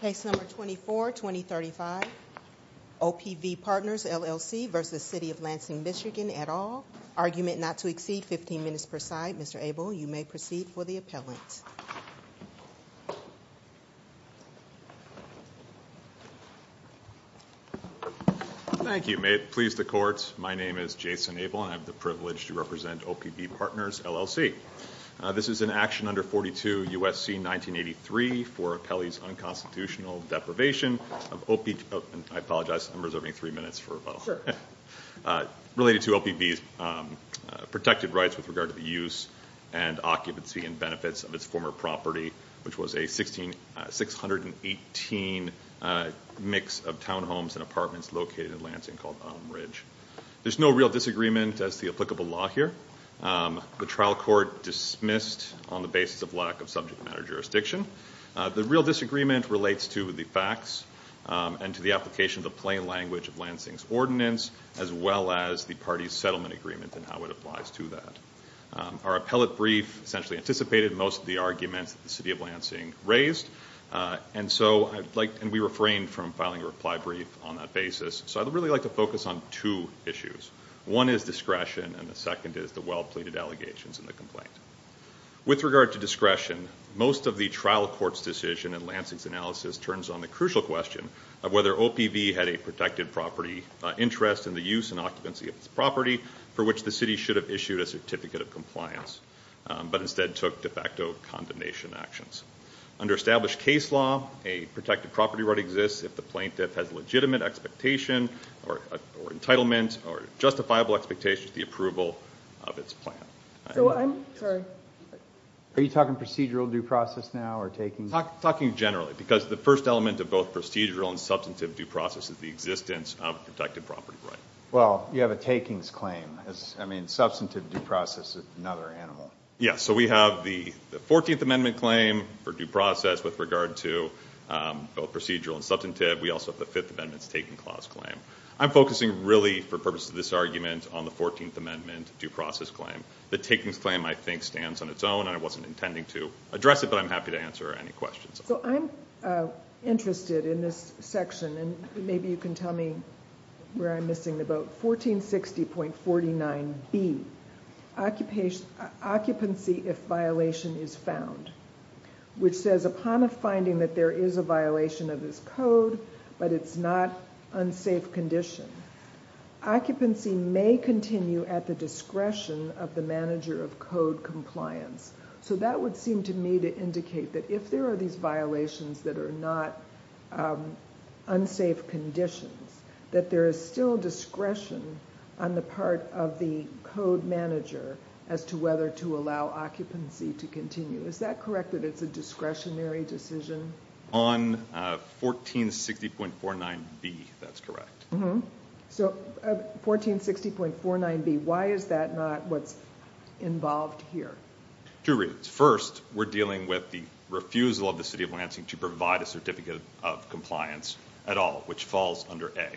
Case No. 24-2035 OPV Partners LLC v. City of Lansing MI at all Argument not to exceed 15 minutes per side Mr. Abel you may proceed for the appellant. Thank you may it please the courts my name is Jason Abel and I have the privilege to represent OPV Partners LLC this is an action under 42 USC 1983 for appellees unconstitutional deprivation of OPV I apologize I'm reserving three minutes for related to OPV's protected rights with regard to the use and occupancy and benefits of its former property which was a 16 618 mix of townhomes and apartments located in Lansing called Umbridge there's no real disagreement as the applicable law here the trial court dismissed on the real disagreement relates to the facts and to the application of the plain language of Lansing's ordinance as well as the party's settlement agreement and how it applies to that our appellate brief essentially anticipated most of the arguments at the City of Lansing raised and so I'd like and we refrained from filing a reply brief on that basis so I'd really like to focus on two issues one is discretion and the second is the well-pleaded allegations in the with regard to discretion most of the trial court's decision and Lansing's analysis turns on the crucial question of whether OPV had a protected property interest in the use and occupancy of its property for which the city should have issued a certificate of compliance but instead took de facto condemnation actions under established case law a protected property right exists if the plaintiff has legitimate expectation or entitlement or justifiable expectations the approval of its plan are you talking procedural due process now or taking talking generally because the first element of both procedural and substantive due process is the existence of protected property right well you have a takings claim as I mean substantive due process is another animal yeah so we have the 14th amendment claim for due process with regard to both procedural and substantive we also have the Fifth Amendment's taking clause claim I'm focusing really for purpose of this amendment due process claim the takings claim I think stands on its own and I wasn't intending to address it but I'm happy to answer any questions so I'm interested in this section and maybe you can tell me where I'm missing the boat 1460 point 49 B occupation occupancy if violation is found which says upon a finding that there is a violation of this code but it's not unsafe condition occupancy may continue at the discretion of the manager of code compliance so that would seem to me to indicate that if there are these violations that are not unsafe conditions that there is still discretion on the part of the code manager as to whether to allow occupancy to continue is that correct that it's a discretionary decision on 1460.49 B that's correct mm-hmm so 1460.49 B why is that not what's involved here to read first we're dealing with the refusal of the city of Lansing to provide a certificate of compliance at all which falls under a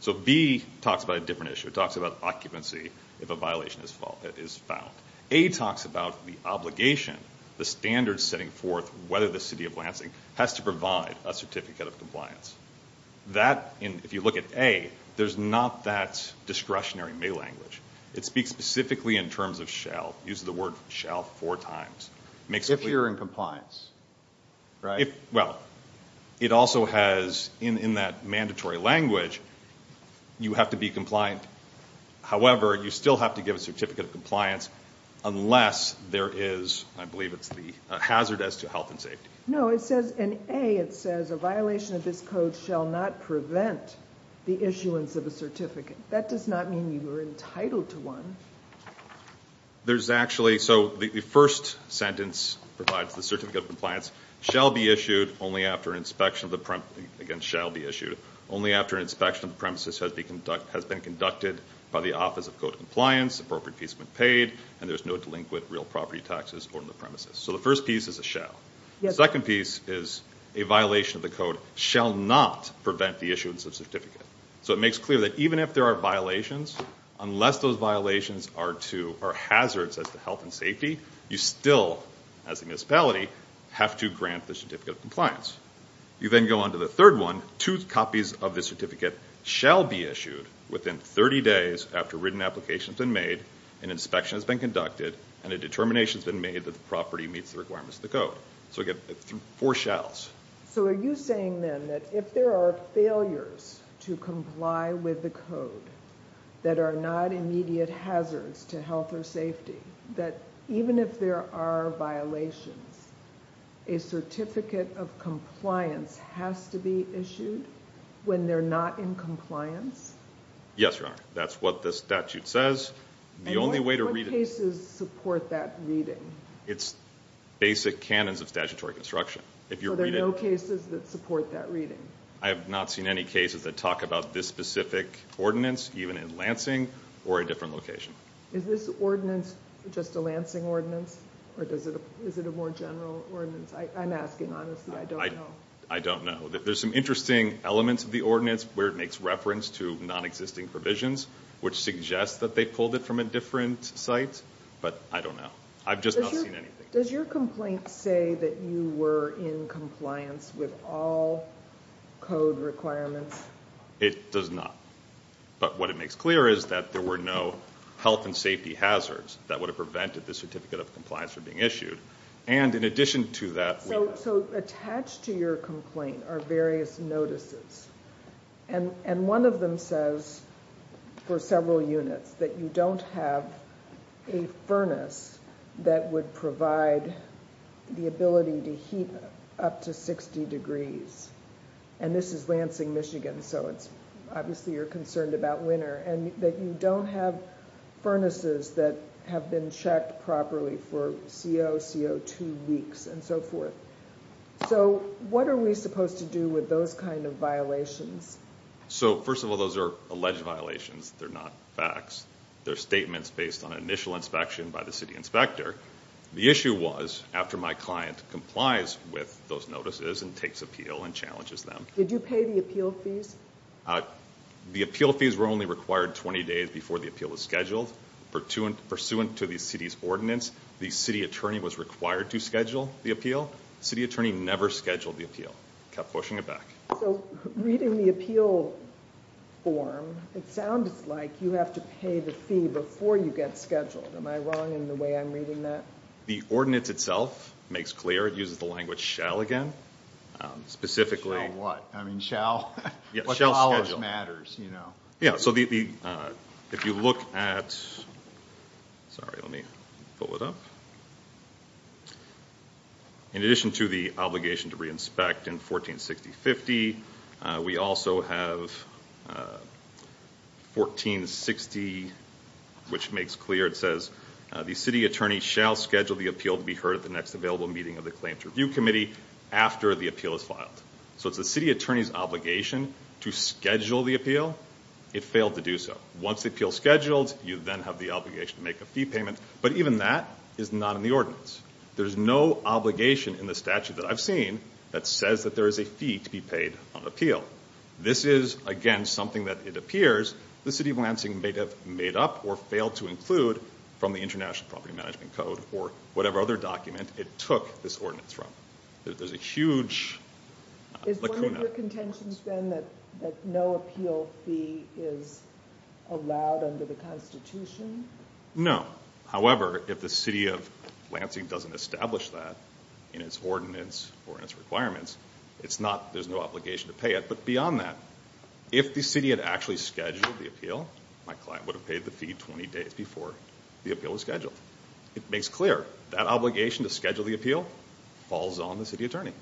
so B talks about a different issue talks about occupancy if a violation is fault that is found a talks about the obligation the standard setting forth whether the city of Lansing has to provide a certificate of compliance that in if you look at a there's not that discretionary may language it speaks specifically in terms of shall use the word shall four times makes if you're in compliance right well it also has in in that mandatory language you have to be compliant however you still have to give a compliance unless there is I believe it's the hazard as to health and safety no it says in a it says a violation of this code shall not prevent the issuance of a certificate that does not mean you were entitled to one there's actually so the first sentence provides the certificate of compliance shall be issued only after an inspection of the premise again shall be issued only after an inspection of premises has been conducted has been conducted by the paid and there's no delinquent real property taxes on the premises so the first piece is a shell second piece is a violation of the code shall not prevent the issuance of certificate so it makes clear that even if there are violations unless those violations are to our hazards as the health and safety you still as a municipality have to grant the certificate of compliance you then go on to the third one two copies of the certificate shall be issued within 30 days after written applications and made an inspection has been conducted and a determination has been made that the property meets the requirements of the code so get four shells so are you saying then that if there are failures to comply with the code that are not immediate hazards to health or safety that even if there are violations a certificate of compliance has to be that's what the statute says the only way to read it's basic canons of statutory construction if you're there no cases that support that reading I have not seen any cases that talk about this specific ordinance even in Lansing or a different location is this ordinance just a Lansing ordinance or does it is it a more general ordinance I'm asking honestly I don't know I don't know that there's some interesting elements of the ordinance where it makes reference to non-existing provisions which suggests that they pulled it from a different site but I don't know I've just seen anything does your complaint say that you were in compliance with all code requirements it does not but what it makes clear is that there were no health and safety hazards that would have prevented the certificate of compliance for being issued and in to that so attached to your complaint are various notices and and one of them says for several units that you don't have a furnace that would provide the ability to heat up to 60 degrees and this is Lansing Michigan so it's obviously you're concerned about winter and that you don't have furnaces that have been checked properly for co2 weeks and so forth so what are we supposed to do with those kind of violations so first of all those are alleged violations they're not facts they're statements based on initial inspection by the city inspector the issue was after my client complies with those notices and takes appeal and challenges them did you pay the appeal fees the appeal fees were only required 20 days before the appeal is scheduled for to and pursuant to the city's ordinance the city attorney was required to schedule the appeal city attorney never scheduled the appeal kept pushing it back reading the appeal form it sounds like you have to pay the fee before you get scheduled am I wrong in the way I'm reading that the ordinance itself makes clear it uses the language shall again specifically what I mean yeah so the if you look at sorry let me pull it up in addition to the obligation to re-inspect in 1460 50 we also have 1460 which makes clear it says the city attorney shall schedule the appeal to be heard at the next available meeting of the claims review committee after the appeal is filed so it's the city attorney's obligation to schedule the appeal it failed to do so once the appeal scheduled you then have the obligation to make a fee payment but even that is not in the ordinance there's no obligation in the statute that I've seen that says that there is a fee to be paid on appeal this is again something that it appears the city of Lansing may have made up or failed to include from the International Property Management Code or whatever other document it took this ordinance from there's a huge no however if the city of Lansing doesn't establish that in its ordinance or in its requirements it's not there's no obligation to pay it but beyond that if the city had actually scheduled the appeal my client would have paid the fee days before the appeal is scheduled it makes clear that obligation to schedule the appeal falls on the city attorney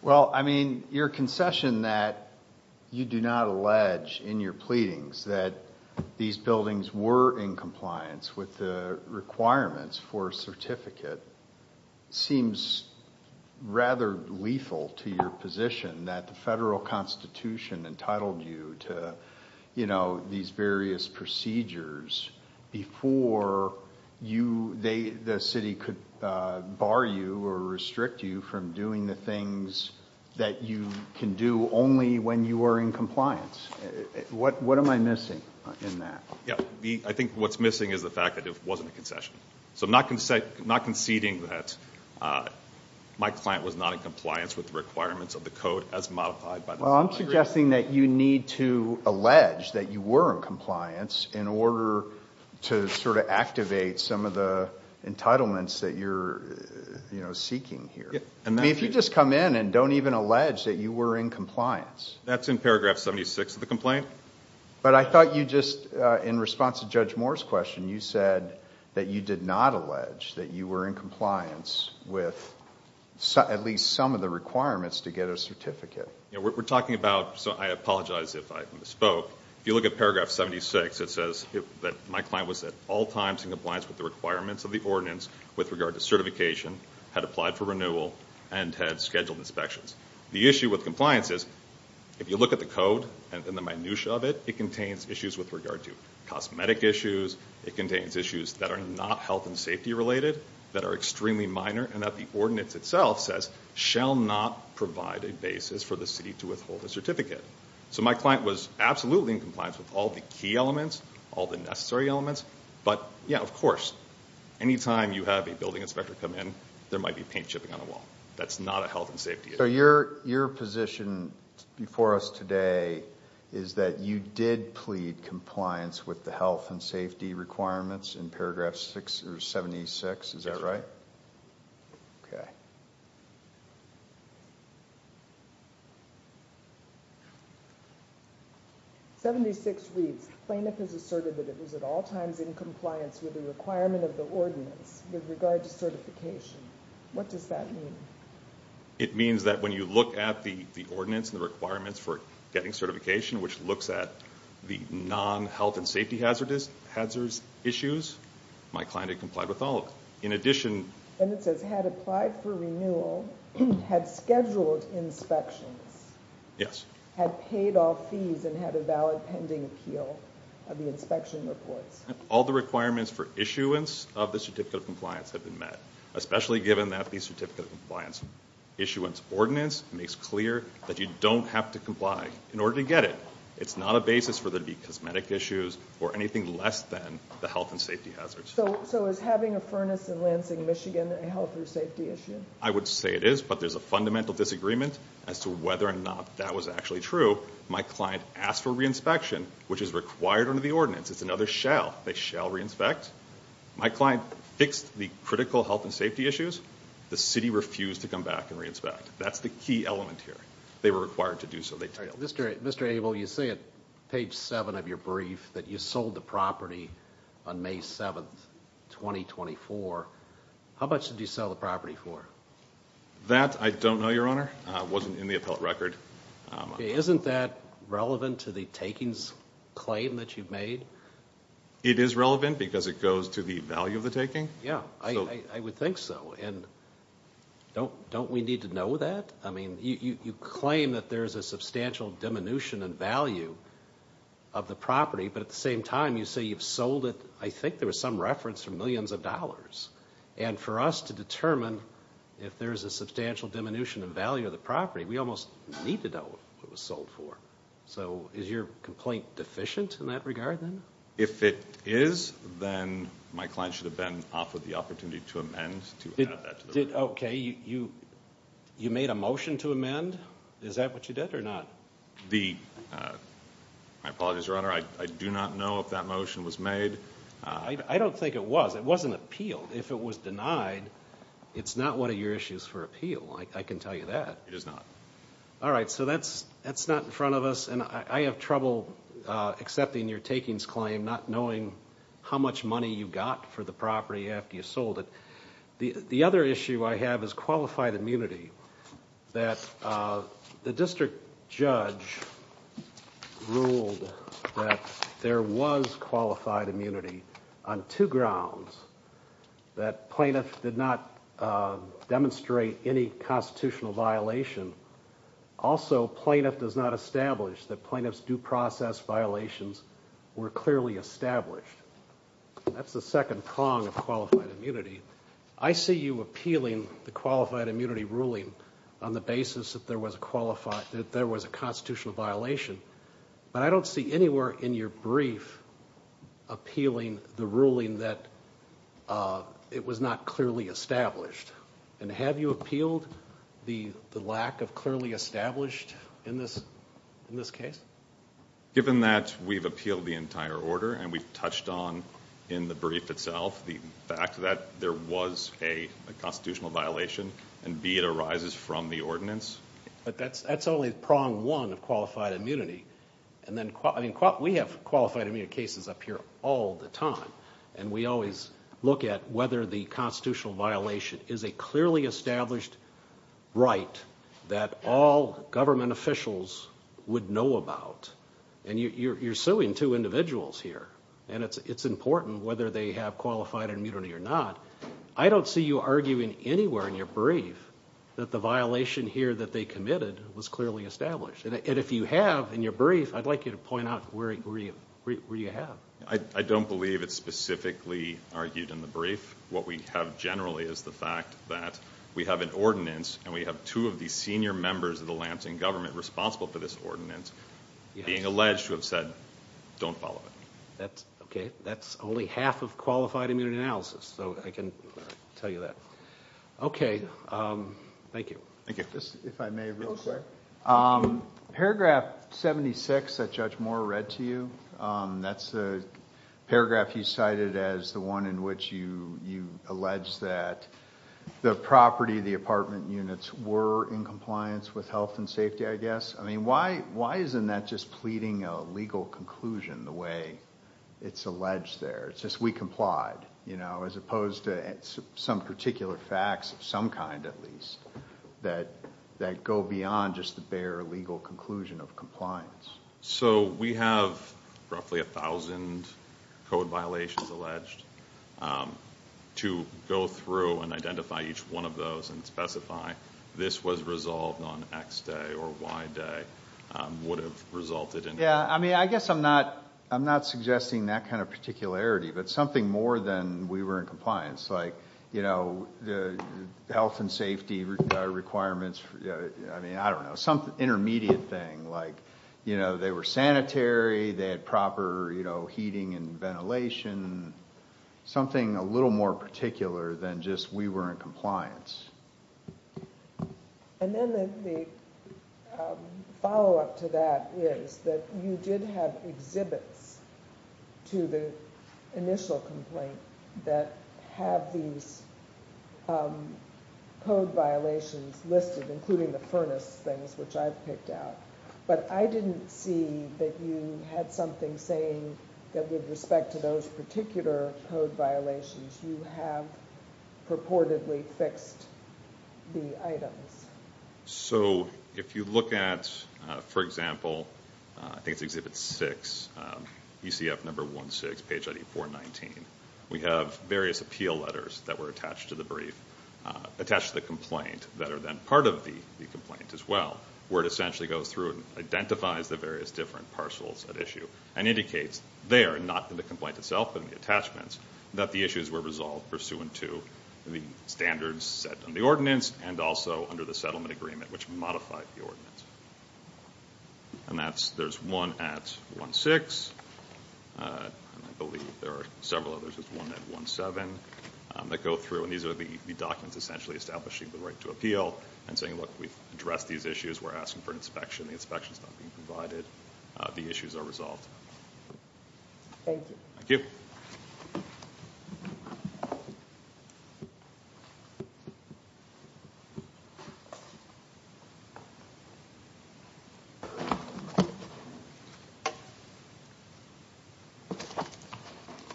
well I mean your concession that you do not allege in your pleadings that these buildings were in compliance with the requirements for certificate seems rather lethal to your position that the Constitution entitled you to you know these various procedures before you they the city could bar you or restrict you from doing the things that you can do only when you are in compliance what what am I missing in that yeah I think what's missing is the fact that it wasn't a concession so I'm not going to say not conceding that my client was not in compliance with the requirements of the code as modified by well I'm suggesting that you need to allege that you were in compliance in order to sort of activate some of the entitlements that you're you know seeking here and if you just come in and don't even allege that you were in compliance that's in paragraph 76 of the complaint but I thought you just in response to Judge Moore's question you said that you did not allege that you were in compliance with at least some of the requirements to get a certificate we're talking about so I apologize if I misspoke if you look at paragraph 76 it says that my client was at all times in compliance with the requirements of the ordinance with regard to certification had applied for renewal and had scheduled inspections the issue with compliance is if you look at the code and the minutia of it it contains issues with regard to cosmetic issues it contains issues that are not health and safety related that are minor and that the ordinance itself says shall not provide a basis for the city to withhold a certificate so my client was absolutely in compliance with all the key elements all the necessary elements but yeah of course anytime you have a building inspector come in there might be paint chipping on the wall that's not a health and safety so your your position before us today is that you did plead compliance with the health and safety requirements in paragraph 6 or 76 is that right ok 76 weeks plaintiff has asserted that it was at all times in compliance with the requirement of the ordinance with regard to certification what does that mean it means that when you look at the the ordinance and the requirements for getting certification which looks at the non health and safety hazardous hazards issues my client had complied with all in addition and it says had applied for renewal had scheduled inspections yes had paid all fees and had a valid pending appeal of the inspection reports all the requirements for issuance of the certificate of compliance have been met especially given that the certificate of compliance issuance ordinance makes clear that you don't have to comply in order to get it it's not a basis for the cosmetic issues or anything less than the health and safety hazards so so is having a furnace in Lansing Michigan a health or safety issue I would say it is but there's a fundamental disagreement as to whether or not that was actually true my client asked for re-inspection which is required under the ordinance it's another shell they shall re-inspect my client fixed the critical health and safety issues the city refused to come back and re-inspect that's the key element here they were required to do so they Mr. mr. Abel you say it page 7 of your brief that you sold the property on May 7th 2024 how much did you sell the property for that I don't know your honor wasn't in the appellate record isn't that relevant to the takings claim that you've made it is relevant because it goes to the value of the taking yeah I would think so and don't don't we need to know that I mean you claim that there's a substantial diminution in value of the property but at the same time you say you've sold it I think there was some reference for millions of dollars and for us to determine if there's a substantial diminution in value of the property we almost need to know what was sold for so is your complaint deficient in that regard then if it is then my client should have been offered the opportunity to amend it okay you you made a motion to amend is that what you did or not the apologies runner I do not know if that motion was made I don't think it was it wasn't appealed if it was denied it's not one of your issues for appeal like I can tell you that it is not all right so that's that's not in front of us and I have trouble accepting your takings claim not knowing how much money you got for the property after you sold it the other issue I have is qualified immunity that the district judge ruled that there was qualified immunity on two grounds that plaintiff did not demonstrate any constitutional violation also plaintiff does not establish that plaintiffs due process violations were clearly established that's the second prong of immunity I see you appealing the qualified immunity ruling on the basis that there was a qualified that there was a constitutional violation but I don't see anywhere in your brief appealing the ruling that it was not clearly established and have you appealed the the lack of clearly established in this in this case given that we've appealed the entire order and we've touched on in the brief itself the fact that there was a constitutional violation and be it arises from the ordinance but that's that's only the prong one of qualified immunity and then I mean what we have qualified immune cases up here all the time and we always look at whether the constitutional violation is a clearly established right that all government officials would know about and you're suing two individuals here and it's it's important whether they have qualified immunity or not I don't see you arguing anywhere in your brief that the violation here that they committed was clearly established and if you have in your brief I'd like you to point out where you have I don't believe it's specifically argued in the brief what we have generally is the fact that we have an ordinance and we have two of these senior members of the Lansing government responsible for this ordinance being alleged to have said don't follow it that's okay that's only half of qualified immunity analysis so I can tell you that okay thank you thank you if I may real quick paragraph 76 that judge Moore read to you that's a paragraph he cited as the one in which you you allege that the property the apartment units were in compliance with health and safety I guess I mean why why isn't that just pleading a legal conclusion the way it's alleged there it's just we complied you know as opposed to some particular facts of some kind at least that that go beyond just the bare legal conclusion of compliance so we have roughly a thousand code violations alleged to go through and identify each one of those and specify this was resolved on X day or Y day would have resulted in yeah I mean I guess I'm not I'm not suggesting that kind of particularity but something more than we were in compliance like you know the health and safety requirements I mean I don't know some intermediate thing like you know they were sanitary they had proper you know heating and ventilation something a little more particular than just we were in compliance and then the follow-up to that is that you did have exhibits to the initial complaint that have these code violations listed including the furnace things which I've picked out but I didn't see that you had something saying that with respect to those particular code violations you have purportedly fixed the items so if you look at for example I think it's exhibit 6 ECF number 1 6 page ID 419 we have various appeal letters that were attached to the brief attached to the complaint that are then part of the the complaint as well where it essentially goes through and identifies the various different parcels at issue and indicates they are not in the complaint itself but in the attachments that the issues were resolved pursuant to the standards set on the ordinance and also under the settlement agreement which modified the ordinance and that's there's one at 1 6 I believe there are several others with one at 1 7 that go through and these are the documents essentially establishing the right to appeal and saying look we've addressed these issues we're asking for inspection the inspections not being provided the issues are resolved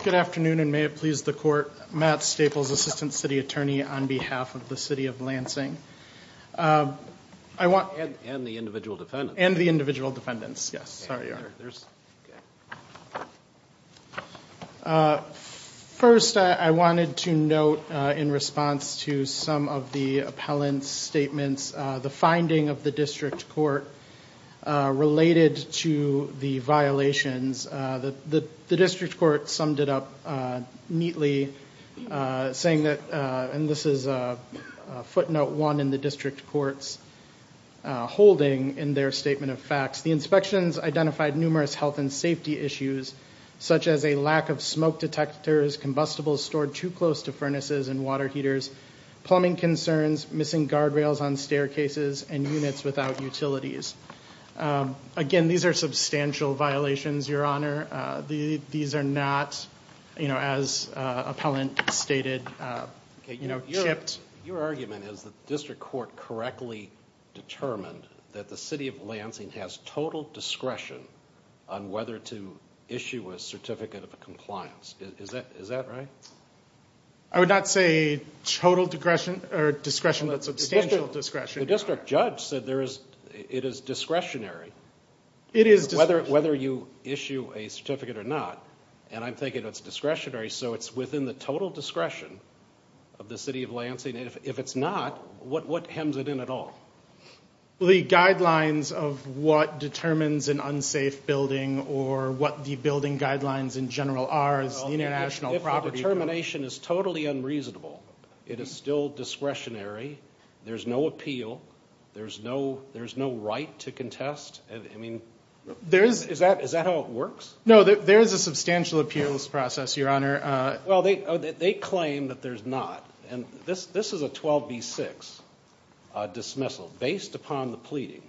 good afternoon and may it please the court Matt Staples assistant city attorney on behalf of the city of Lansing I want and the individual defendants and the individual defendants yes first I wanted to note in response to some of the appellants statements the finding of the district court related to the violations that the district court summed it up neatly saying that and this is a footnote one in the district courts holding in their statement of facts the inspections identified numerous health and safety issues such as a lack of smoke detectors combustibles stored too close to furnaces and water heaters plumbing concerns missing guardrails on staircases and units without utilities again these are substantial violations your honor the these are not you know as appellant stated you know your argument is the district court correctly determined that the city of Lansing has total discretion on whether to issue a certificate of compliance is that is that right I would not say total digression or discretion that substantial discretion the district judge said there is it is discretionary it is whether it whether you issue a certificate or not and I'm thinking it's discretionary so it's within the total discretion of the city of Lansing if it's not what what hems it in at all the guidelines of what determines an unsafe building or what the building guidelines in general are international property termination is totally unreasonable it is still discretionary there's no appeal there's no there's no right to contest I mean there is is that is that how it works no that there is a substantial appeals process your honor well they they claim that there's not and this this is a 12b 6 dismissal based upon the pleading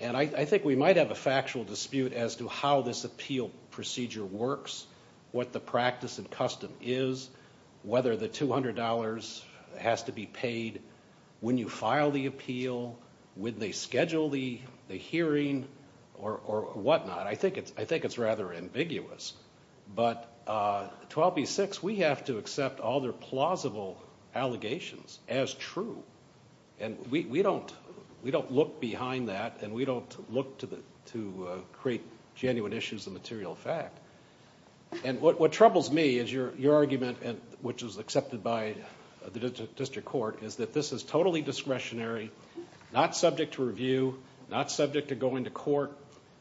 and I think we might have a factual dispute as to how this appeal procedure works what the practice and custom is whether the $200 has to be paid when you file the appeal when they schedule the the hearing or whatnot I think it's I think it's rather ambiguous but 12b 6 we have to accept all their plausible allegations as true and we don't we don't look behind that and we don't look to the to create genuine issues the material fact and what troubles me is your your argument and which is accepted by the district court is that this is totally discretionary not subject to review not subject to going to court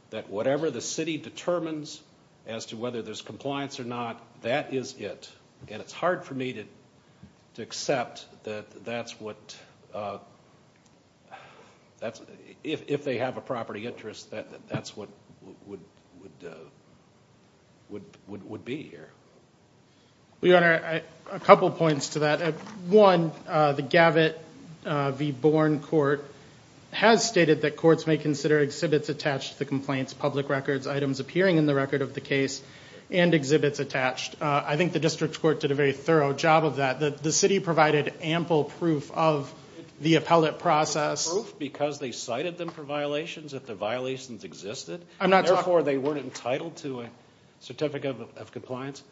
that whatever the city determines as to whether there's compliance or not that is it and it's hard for me to to accept that that's what that's if they have a property interest that that's what would would would would be here we are a couple points to that at one the gavit v. Bourne court has stated that courts may consider exhibits attached to the complaints public records items appearing in the record of the case and exhibits attached I think the district court did a very thorough job of that that the city provided ample proof of the appellate process because they cited them for violations if the violations existed I'm not for they weren't entitled to a certificate of compliance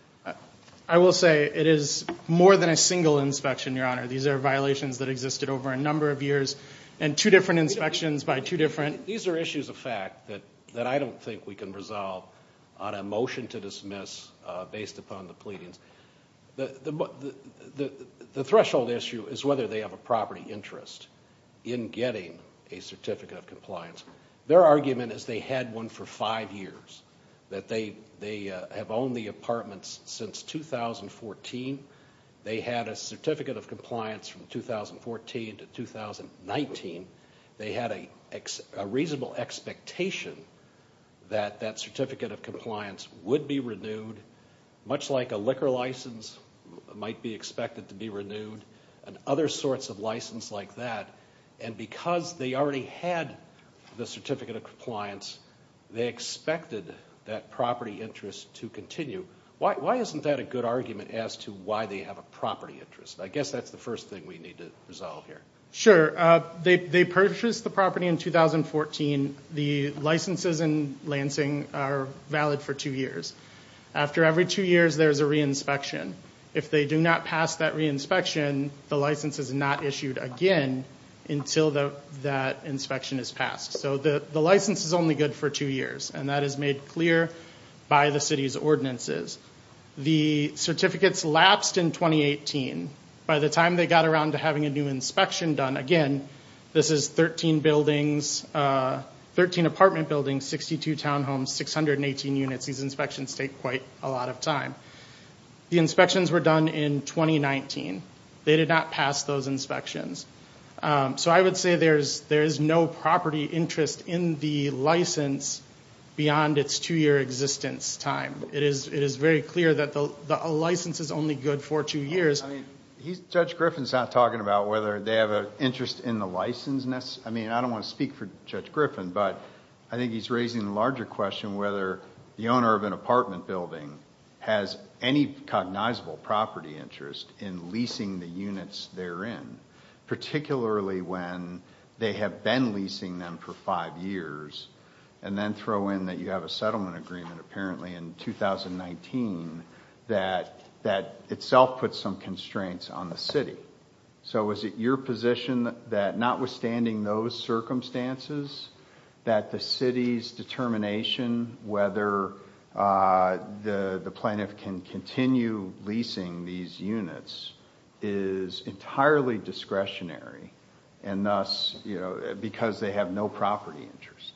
I will say it is more than a single inspection your honor these are violations that existed over a number of years and two different inspections by two different these are issues of fact that that I don't think we can resolve on a motion to dismiss based upon the pleadings the the the threshold issue is whether they have a property interest in getting a certificate of compliance their argument is they had one for five years that they they have owned the apartments since 2014 they had a certificate of compliance from 2014 to 2019 they had a reasonable expectation that that certificate of compliance would be renewed much like a liquor license might be expected to be renewed and other sorts of license like that and because they already had the certificate of compliance they expected that property interest to continue why isn't that a good argument as to why they have a property interest I guess that's the first thing we need to resolve here sure they purchased the property in 2014 the licenses in Lansing are valid for two years after every two years there's a reinspection if they do not pass that reinspection the license is not issued again until the that inspection is passed so the the license is only good for two years and that is made clear by the city's ordinances the certificates lapsed in 2018 by the time they got around to having a new inspection done again this is 13 buildings 13 apartment buildings 62 townhomes 618 units these inspections take quite a lot of time the inspections were done in 2019 they did not pass those inspections so I would say there's there is no property interest in the license beyond its two-year existence time it is it is very clear that the license is only good for two years he's judge Griffin's not talking about whether they have an interest in the licenseness I mean I don't want to speak for judge Griffin but I think he's raising the larger question whether the owner of an apartment building has any cognizable property interest in leasing the units therein particularly when they have been leasing them for five years and then throw in that you have a settlement agreement apparently in 2019 that that itself put some constraints on the city so is it your position that notwithstanding those circumstances that the city's determination whether the the plaintiff can continue leasing these units is entirely discretionary and thus you know because they have no property interest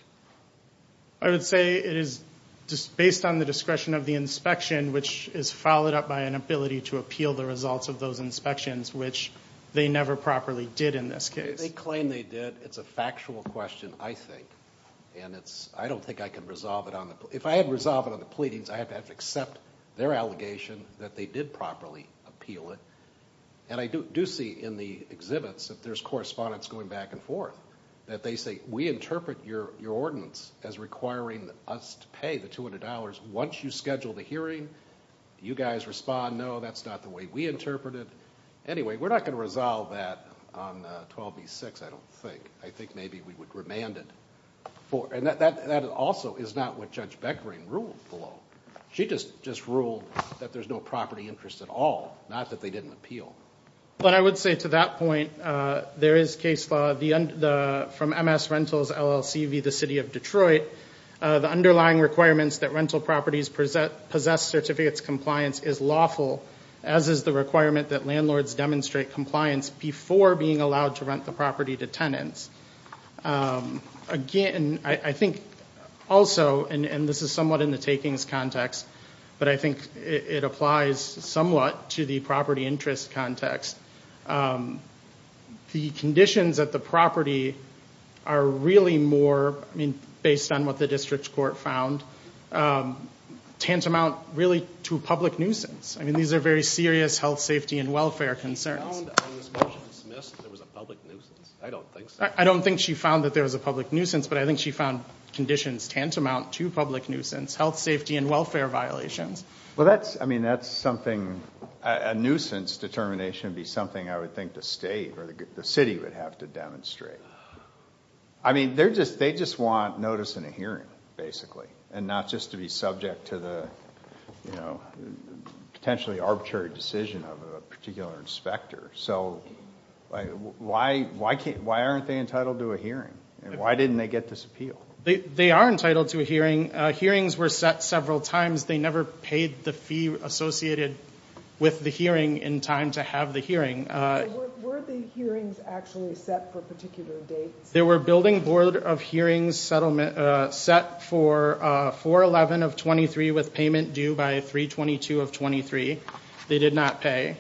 I would say it is just based on the discretion of the inspection which is followed up by an ability to appeal the results of those inspections which they never properly did in this case they claim they did it's a factual question I think and it's I don't think I can resolve it on the if I had resolve it on the pleadings I have to have to accept their allegation that they did properly appeal it and I do see in the exhibits if there's correspondence going back and forth that they say we interpret your your ordinance as requiring us to pay the $200 once you schedule the hearing you guys respond no that's not the way we interpret it anyway we're not going to resolve that 12b6 I don't think I think maybe we would remanded for and that that also is not what judge Beckering ruled below she just just ruled that there's no property interest at all not that they didn't appeal but I would say to that point there is case law the end from MS rentals LLC be the city of Detroit the underlying requirements that rental properties present possessed certificates compliance is lawful as is the requirement that landlords demonstrate compliance before being allowed to rent the property to tenants again I think also and this is somewhat in the takings context but I think it applies somewhat to the property interest context the conditions that the property are really more I mean based on what the district court found tantamount really to public nuisance I mean these are very serious health safety and welfare concerns I don't think I don't think she found that there was a public nuisance but I think she found conditions tantamount to public nuisance health safety and welfare violations well that's I mean that's something a nuisance determination be something I would think the state or the city would have to demonstrate I mean they're just they just want notice in a hearing basically and not just to be subject to the you know potentially arbitrary decision of a particular inspector so why why can't why aren't they entitled to a hearing and why didn't they get this appeal they are entitled to a hearing hearings were set several times they never paid the fee associated with the hearing in time to have the hearing there were building board of hearings settlement set for 411 of 23 with payment due by 322 of 23 they did not pay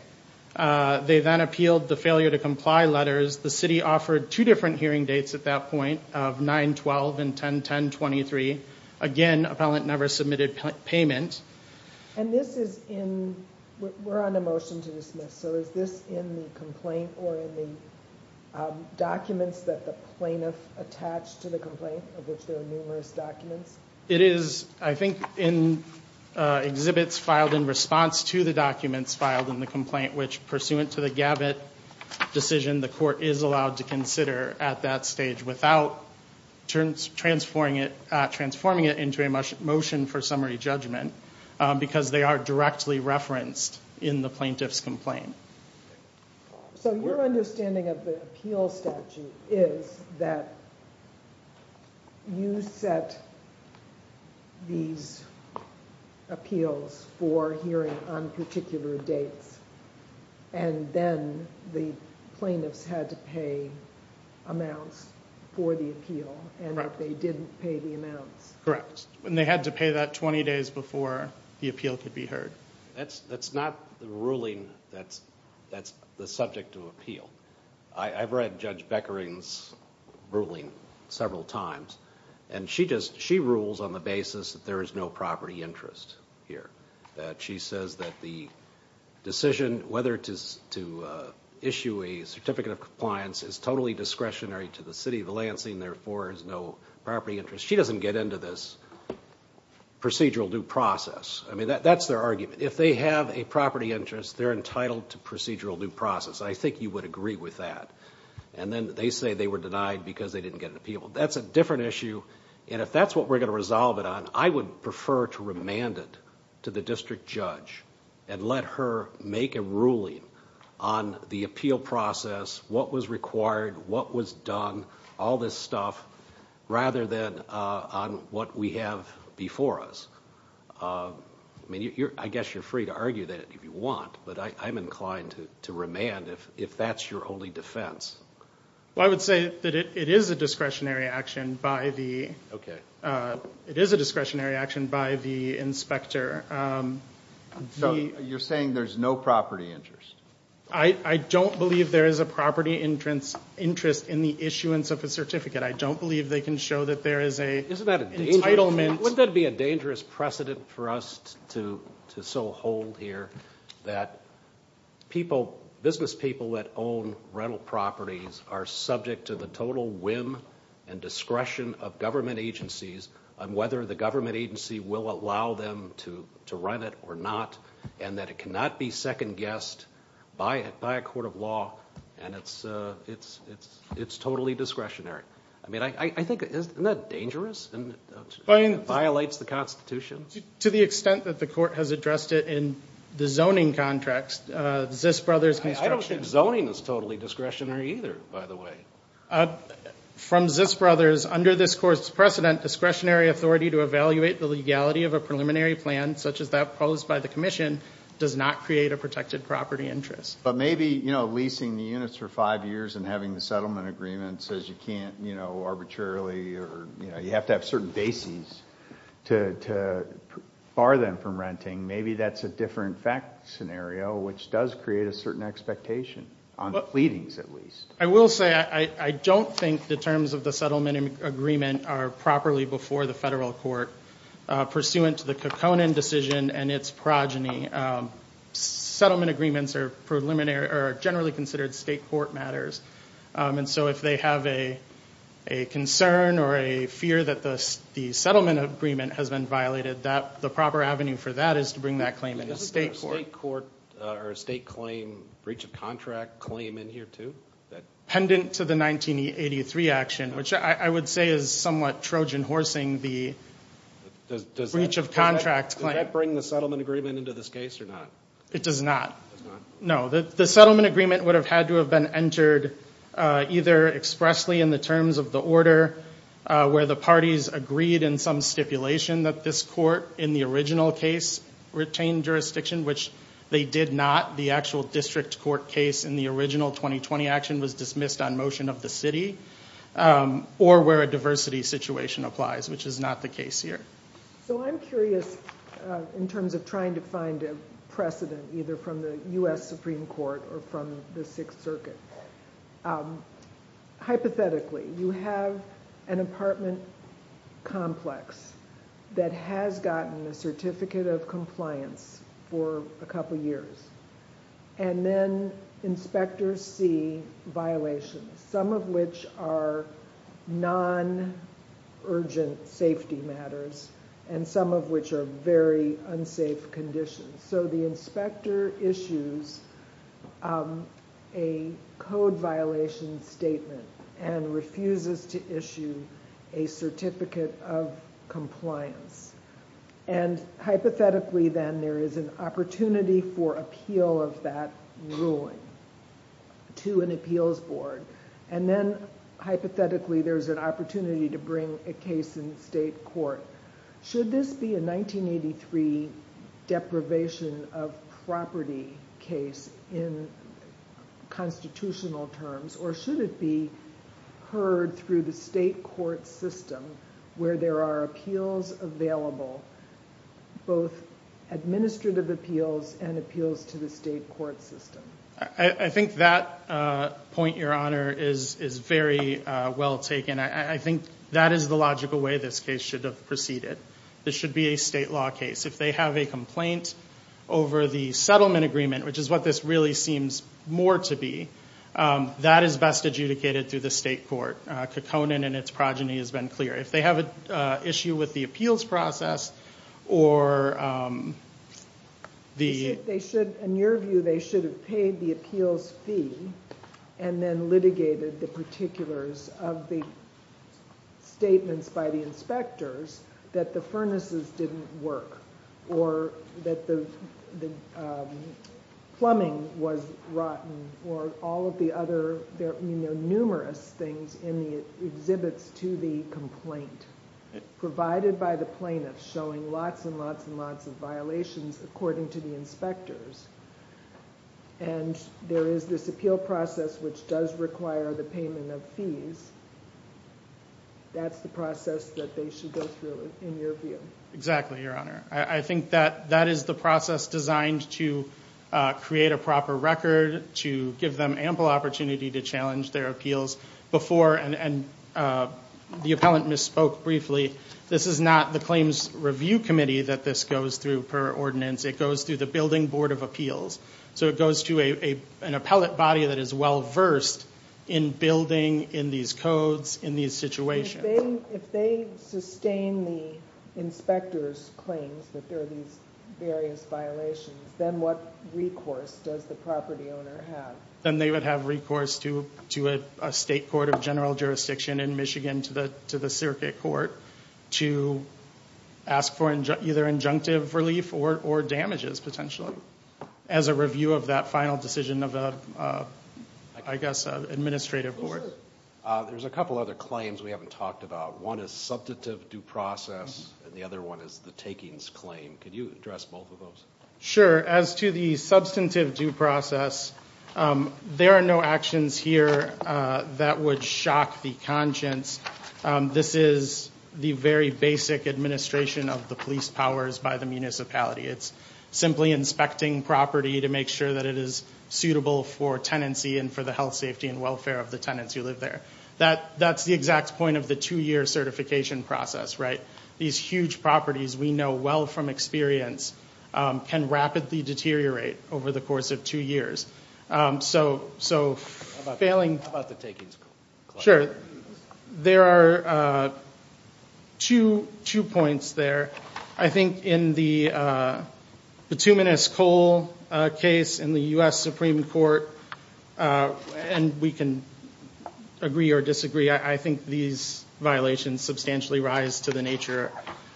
they then appealed the failure to comply letters the city offered two different hearing dates at that point of 912 and 1010 23 again appellant never submitted payment and this is in we're on a motion to dismiss so is this in the documents that the plaintiff attached to the complaint of which there are numerous documents it is I think in exhibits filed in response to the documents filed in the complaint which pursuant to the gabbett decision the court is allowed to consider at that stage without turns transforming it transforming it into a motion motion for summary judgment because they are directly referenced in the plaintiff's complain so you're understanding of the appeal statute is that you set these appeals for hearing on particular dates and then the plaintiffs had to pay amounts for the appeal and if they didn't pay the amounts correct when they had to pay that 20 days before the appeal could be heard that's that's not the ruling that's that's the subject of appeal I've read judge Becker ins ruling several times and she just she rules on the basis that there is no property interest here that she says that the decision whether it is to issue a certificate of compliance is totally discretionary to the city of Lansing therefore is no property interest she doesn't get into this procedural due process I mean that that's their argument if they have a property interest they're entitled to procedural due process I think you would agree with that and then they say they were denied because they didn't get an appeal that's a different issue and if that's what we're going to resolve it on I would prefer to remand it to the district judge and let her make a ruling on the appeal process what was required what was done all this stuff rather than on what we have before us I mean you're I guess you're free to argue that if you want but I'm inclined to remand if if that's your only defense well I would say that it is a discretionary action by the okay it is a discretionary action by the inspector so you're saying there's no property interest I I don't believe there is a property entrance interest in the issuance of a certificate I don't believe they can show that there is a is that an entitlement would that be a dangerous precedent for us to to so hold here that people business people that own rental properties are subject to the total whim and discretion of government whether the government agency will allow them to run it or not and that it cannot be second-guessed by it by a court of law and it's it's it's it's totally discretionary I mean I think it is not dangerous and it violates the Constitution to the extent that the court has addressed it in the zoning contracts this brother's construction zoning is totally discretionary either from this brothers under this course precedent discretionary authority to evaluate the legality of a preliminary plan such as that posed by the Commission does not create a protected property interest but maybe you know leasing the units for five years and having the settlement agreement says you can't you know arbitrarily or you have to have certain bases to bar them from renting maybe that's a different fact scenario which does create a certain expectation I will say I don't think the terms of the settlement agreement are properly before the federal court pursuant to the Kekona decision and its progeny settlement agreements are preliminary are generally considered state court matters and so if they have a a concern or a fear that the settlement agreement has been violated that the proper avenue for that is to bring that claim in a state court or a claim breach of contract claim in here to that pendant to the 1983 action which I would say is somewhat Trojan horsing the breach of contract bring the settlement agreement into this case or not it does not know that the settlement agreement would have had to have been entered either expressly in the terms of the order where the parties agreed in some stipulation that this court in the case retained jurisdiction which they did not the actual district court case in the original 2020 action was dismissed on motion of the city or where a diversity situation applies which is not the case here so I'm curious in terms of trying to find a precedent either from the US Supreme Court or from the Sixth Circuit hypothetically you have an apartment complex that has gotten a certificate of compliance for a couple years and then inspectors see violations some of which are non urgent safety matters and some of which are very unsafe conditions so the inspector issues a code violation statement and refuses to issue a certificate of compliance and hypothetically then there is an opportunity for appeal of that ruling to an appeals board and then hypothetically there's an opportunity to bring a case in state court should this be a 1983 deprivation of property case in constitutional terms or should it be heard through the state court system where there are appeals available both administrative appeals and appeals to the state court system I think that point your honor is is very well taken I think that is the logical way this case should have proceeded this should be a state law case if they have a complaint over the settlement agreement which is what this really seems more to be that is best adjudicated through the state court Caconan and its progeny has been clear if they have an issue with the appeals process or the they should in your view they should have paid the appeals fee and then litigated the particulars of the statements by the inspectors that the furnaces didn't work or that the plumbing was rotten or all of the other there are numerous things in the exhibits to the complaint provided by the plaintiffs showing lots and lots and lots of violations according to the inspectors and there is this appeal process which does require the payment of fees that's the process exactly your honor I think that that is the process designed to create a proper record to give them ample opportunity to challenge their appeals before and the appellant misspoke briefly this is not the claims review committee that this goes through per ordinance it goes through the building board of appeals so it goes to a an appellate body that is well-versed in building in these codes in these situations if they sustain the inspectors claims that there are these various violations then what recourse does the property owner have then they would have recourse to to a state court of general jurisdiction in Michigan to the to the circuit court to ask for either injunctive relief or or damages potentially as a review of that final decision of a I guess of administrative there's a couple other claims we haven't talked about one is substantive due process and the other one is the takings claim can you address both of those sure as to the substantive due process there are no actions here that would shock the conscience this is the very basic administration of the police powers by the municipality it's simply inspecting property to make sure that it is suitable for tenancy and for the health safety and welfare of the tenants who live there that that's the exact point of the two-year certification process right these huge properties we know well from experience can rapidly deteriorate over the course of two years so so failing about the taking sure there are two two points there I think in the bituminous coal case in the US Supreme Court and we can agree or disagree I think these violations substantially rise to the nature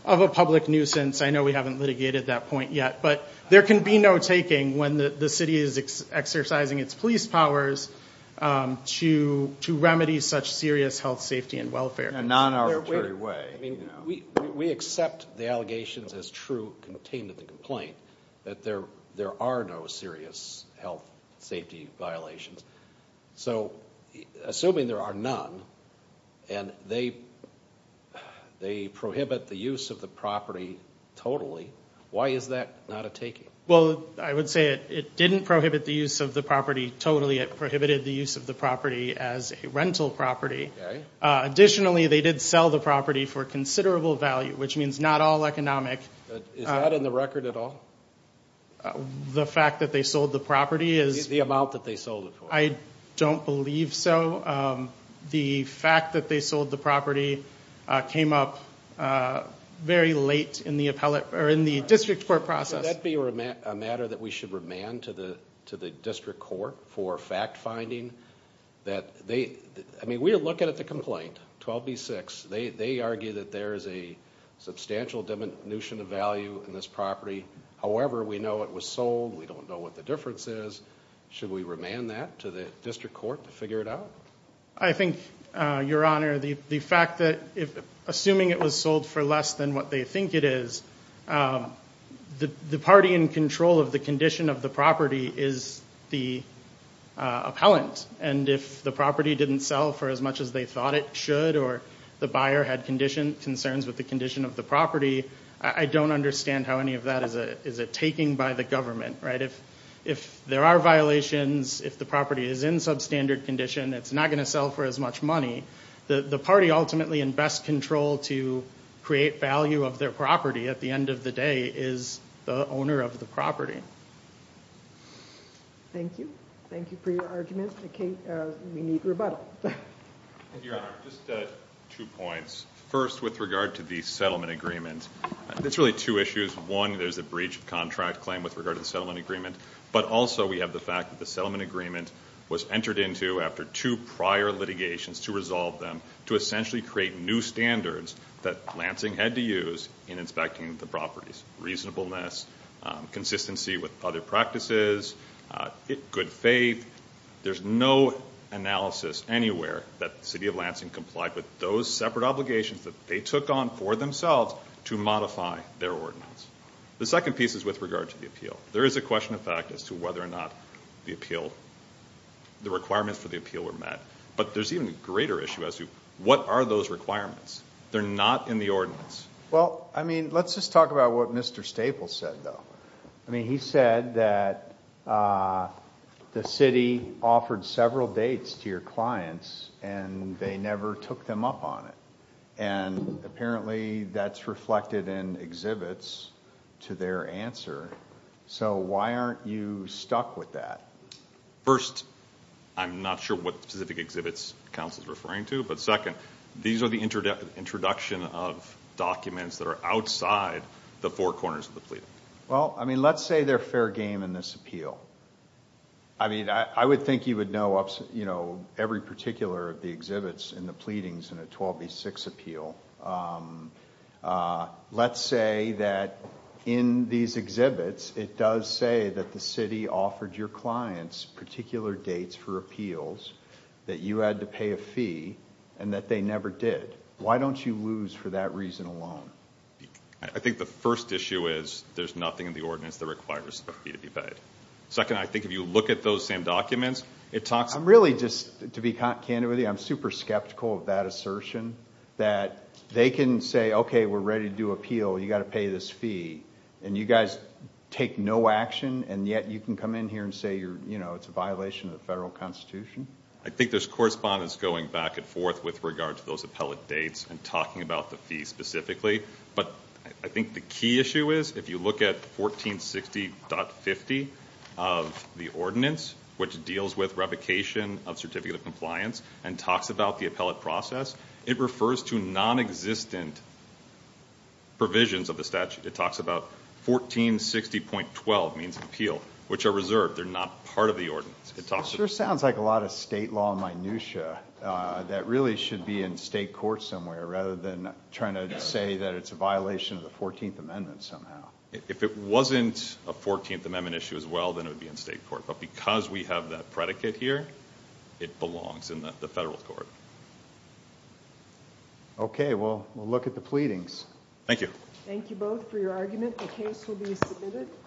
of a public nuisance I know we haven't litigated that point yet but there can be no taking when the city is exercising its police powers to remedy such serious health safety and welfare a non-arbitrary way we accept the allegations as true contained in the complaint that there there are no serious health safety violations so assuming there are none and they they prohibit the use of the property totally why is that not a taking well I would say it it didn't prohibit the use of the property totally it prohibited the use of the property as a rental property additionally they did sell the property for considerable value which means not all economic in the record at all the fact that they sold the property is the amount that they sold it I don't believe so the fact that they sold the property came up very late in the appellate or in the district court process that be a matter that we should remand to the to district court for fact-finding that they I mean we're looking at the complaint 12 b6 they they argue that there is a substantial diminution of value in this property however we know it was sold we don't know what the difference is should we remand that to the district court to figure it out I think your honor the the fact that if assuming it was sold for less than what they think it is the the party in control of the condition of the property is the appellant and if the property didn't sell for as much as they thought it should or the buyer had condition concerns with the condition of the property I don't understand how any of that is a is it taking by the government right if if there are violations if the property is in substandard condition it's not going to sell for as much money the the party ultimately invest control to create value of their property at the end of the day is the owner of the property thank you thank you for your argument to Kate we need rebuttal two points first with regard to the settlement agreement that's really two issues one there's a breach of contract claim with regard to the settlement agreement but also we have the fact that the settlement agreement was entered into after two prior litigations to resolve them to essentially create new standards that Lansing had to use in inspecting the properties reasonableness consistency with other practices it good faith there's no analysis anywhere that city of Lansing complied with those separate obligations that they took on for themselves to modify their ordinance the second piece is with regard to the appeal there is a question of fact as to whether or not the appeal the requirements for the appeal were met but there's even a greater issue as to what are those requirements they're not in the ordinance well I mean let's just about what mr. Staples said though I mean he said that the city offered several dates to your clients and they never took them up on it and apparently that's reflected in exhibits to their answer so why aren't you stuck with that first I'm not sure what specific exhibits council is referring to but second these are the internet introduction of documents that are outside the four corners of the pleading well I mean let's say they're fair game in this appeal I mean I would think you would know ups you know every particular of the exhibits in the pleadings in a 12b6 appeal let's say that in these exhibits it does say that the city offered your clients particular dates for appeals that you had to pay a fee and that they never did why don't you lose for that reason alone I think the first issue is there's nothing in the ordinance that requires a fee to be paid second I think if you look at those same documents it talks I'm really just to be candid with you I'm super skeptical of that assertion that they can say okay we're ready to do appeal you got to pay this fee and you guys take no action and yet you can come in here and say you're you know it's a violation of the federal constitution I think there's correspondence going back and forth with regard to those appellate dates and talking about the fee specifically but I think the key issue is if you look at 1460.50 of the ordinance which deals with revocation of certificate of compliance and talks about the appellate process it refers to non-existent provisions of the statute it talks about 1460.12 means appeal which are reserved they're not part of the ordinance it sounds like a lot of state law minutia that really should be in state court somewhere rather than trying to say that it's a violation of the 14th amendment somehow if it wasn't a 14th amendment issue as well then it would be in state court but because we have that predicate here it belongs in the federal court okay well we'll look at the pleadings thank you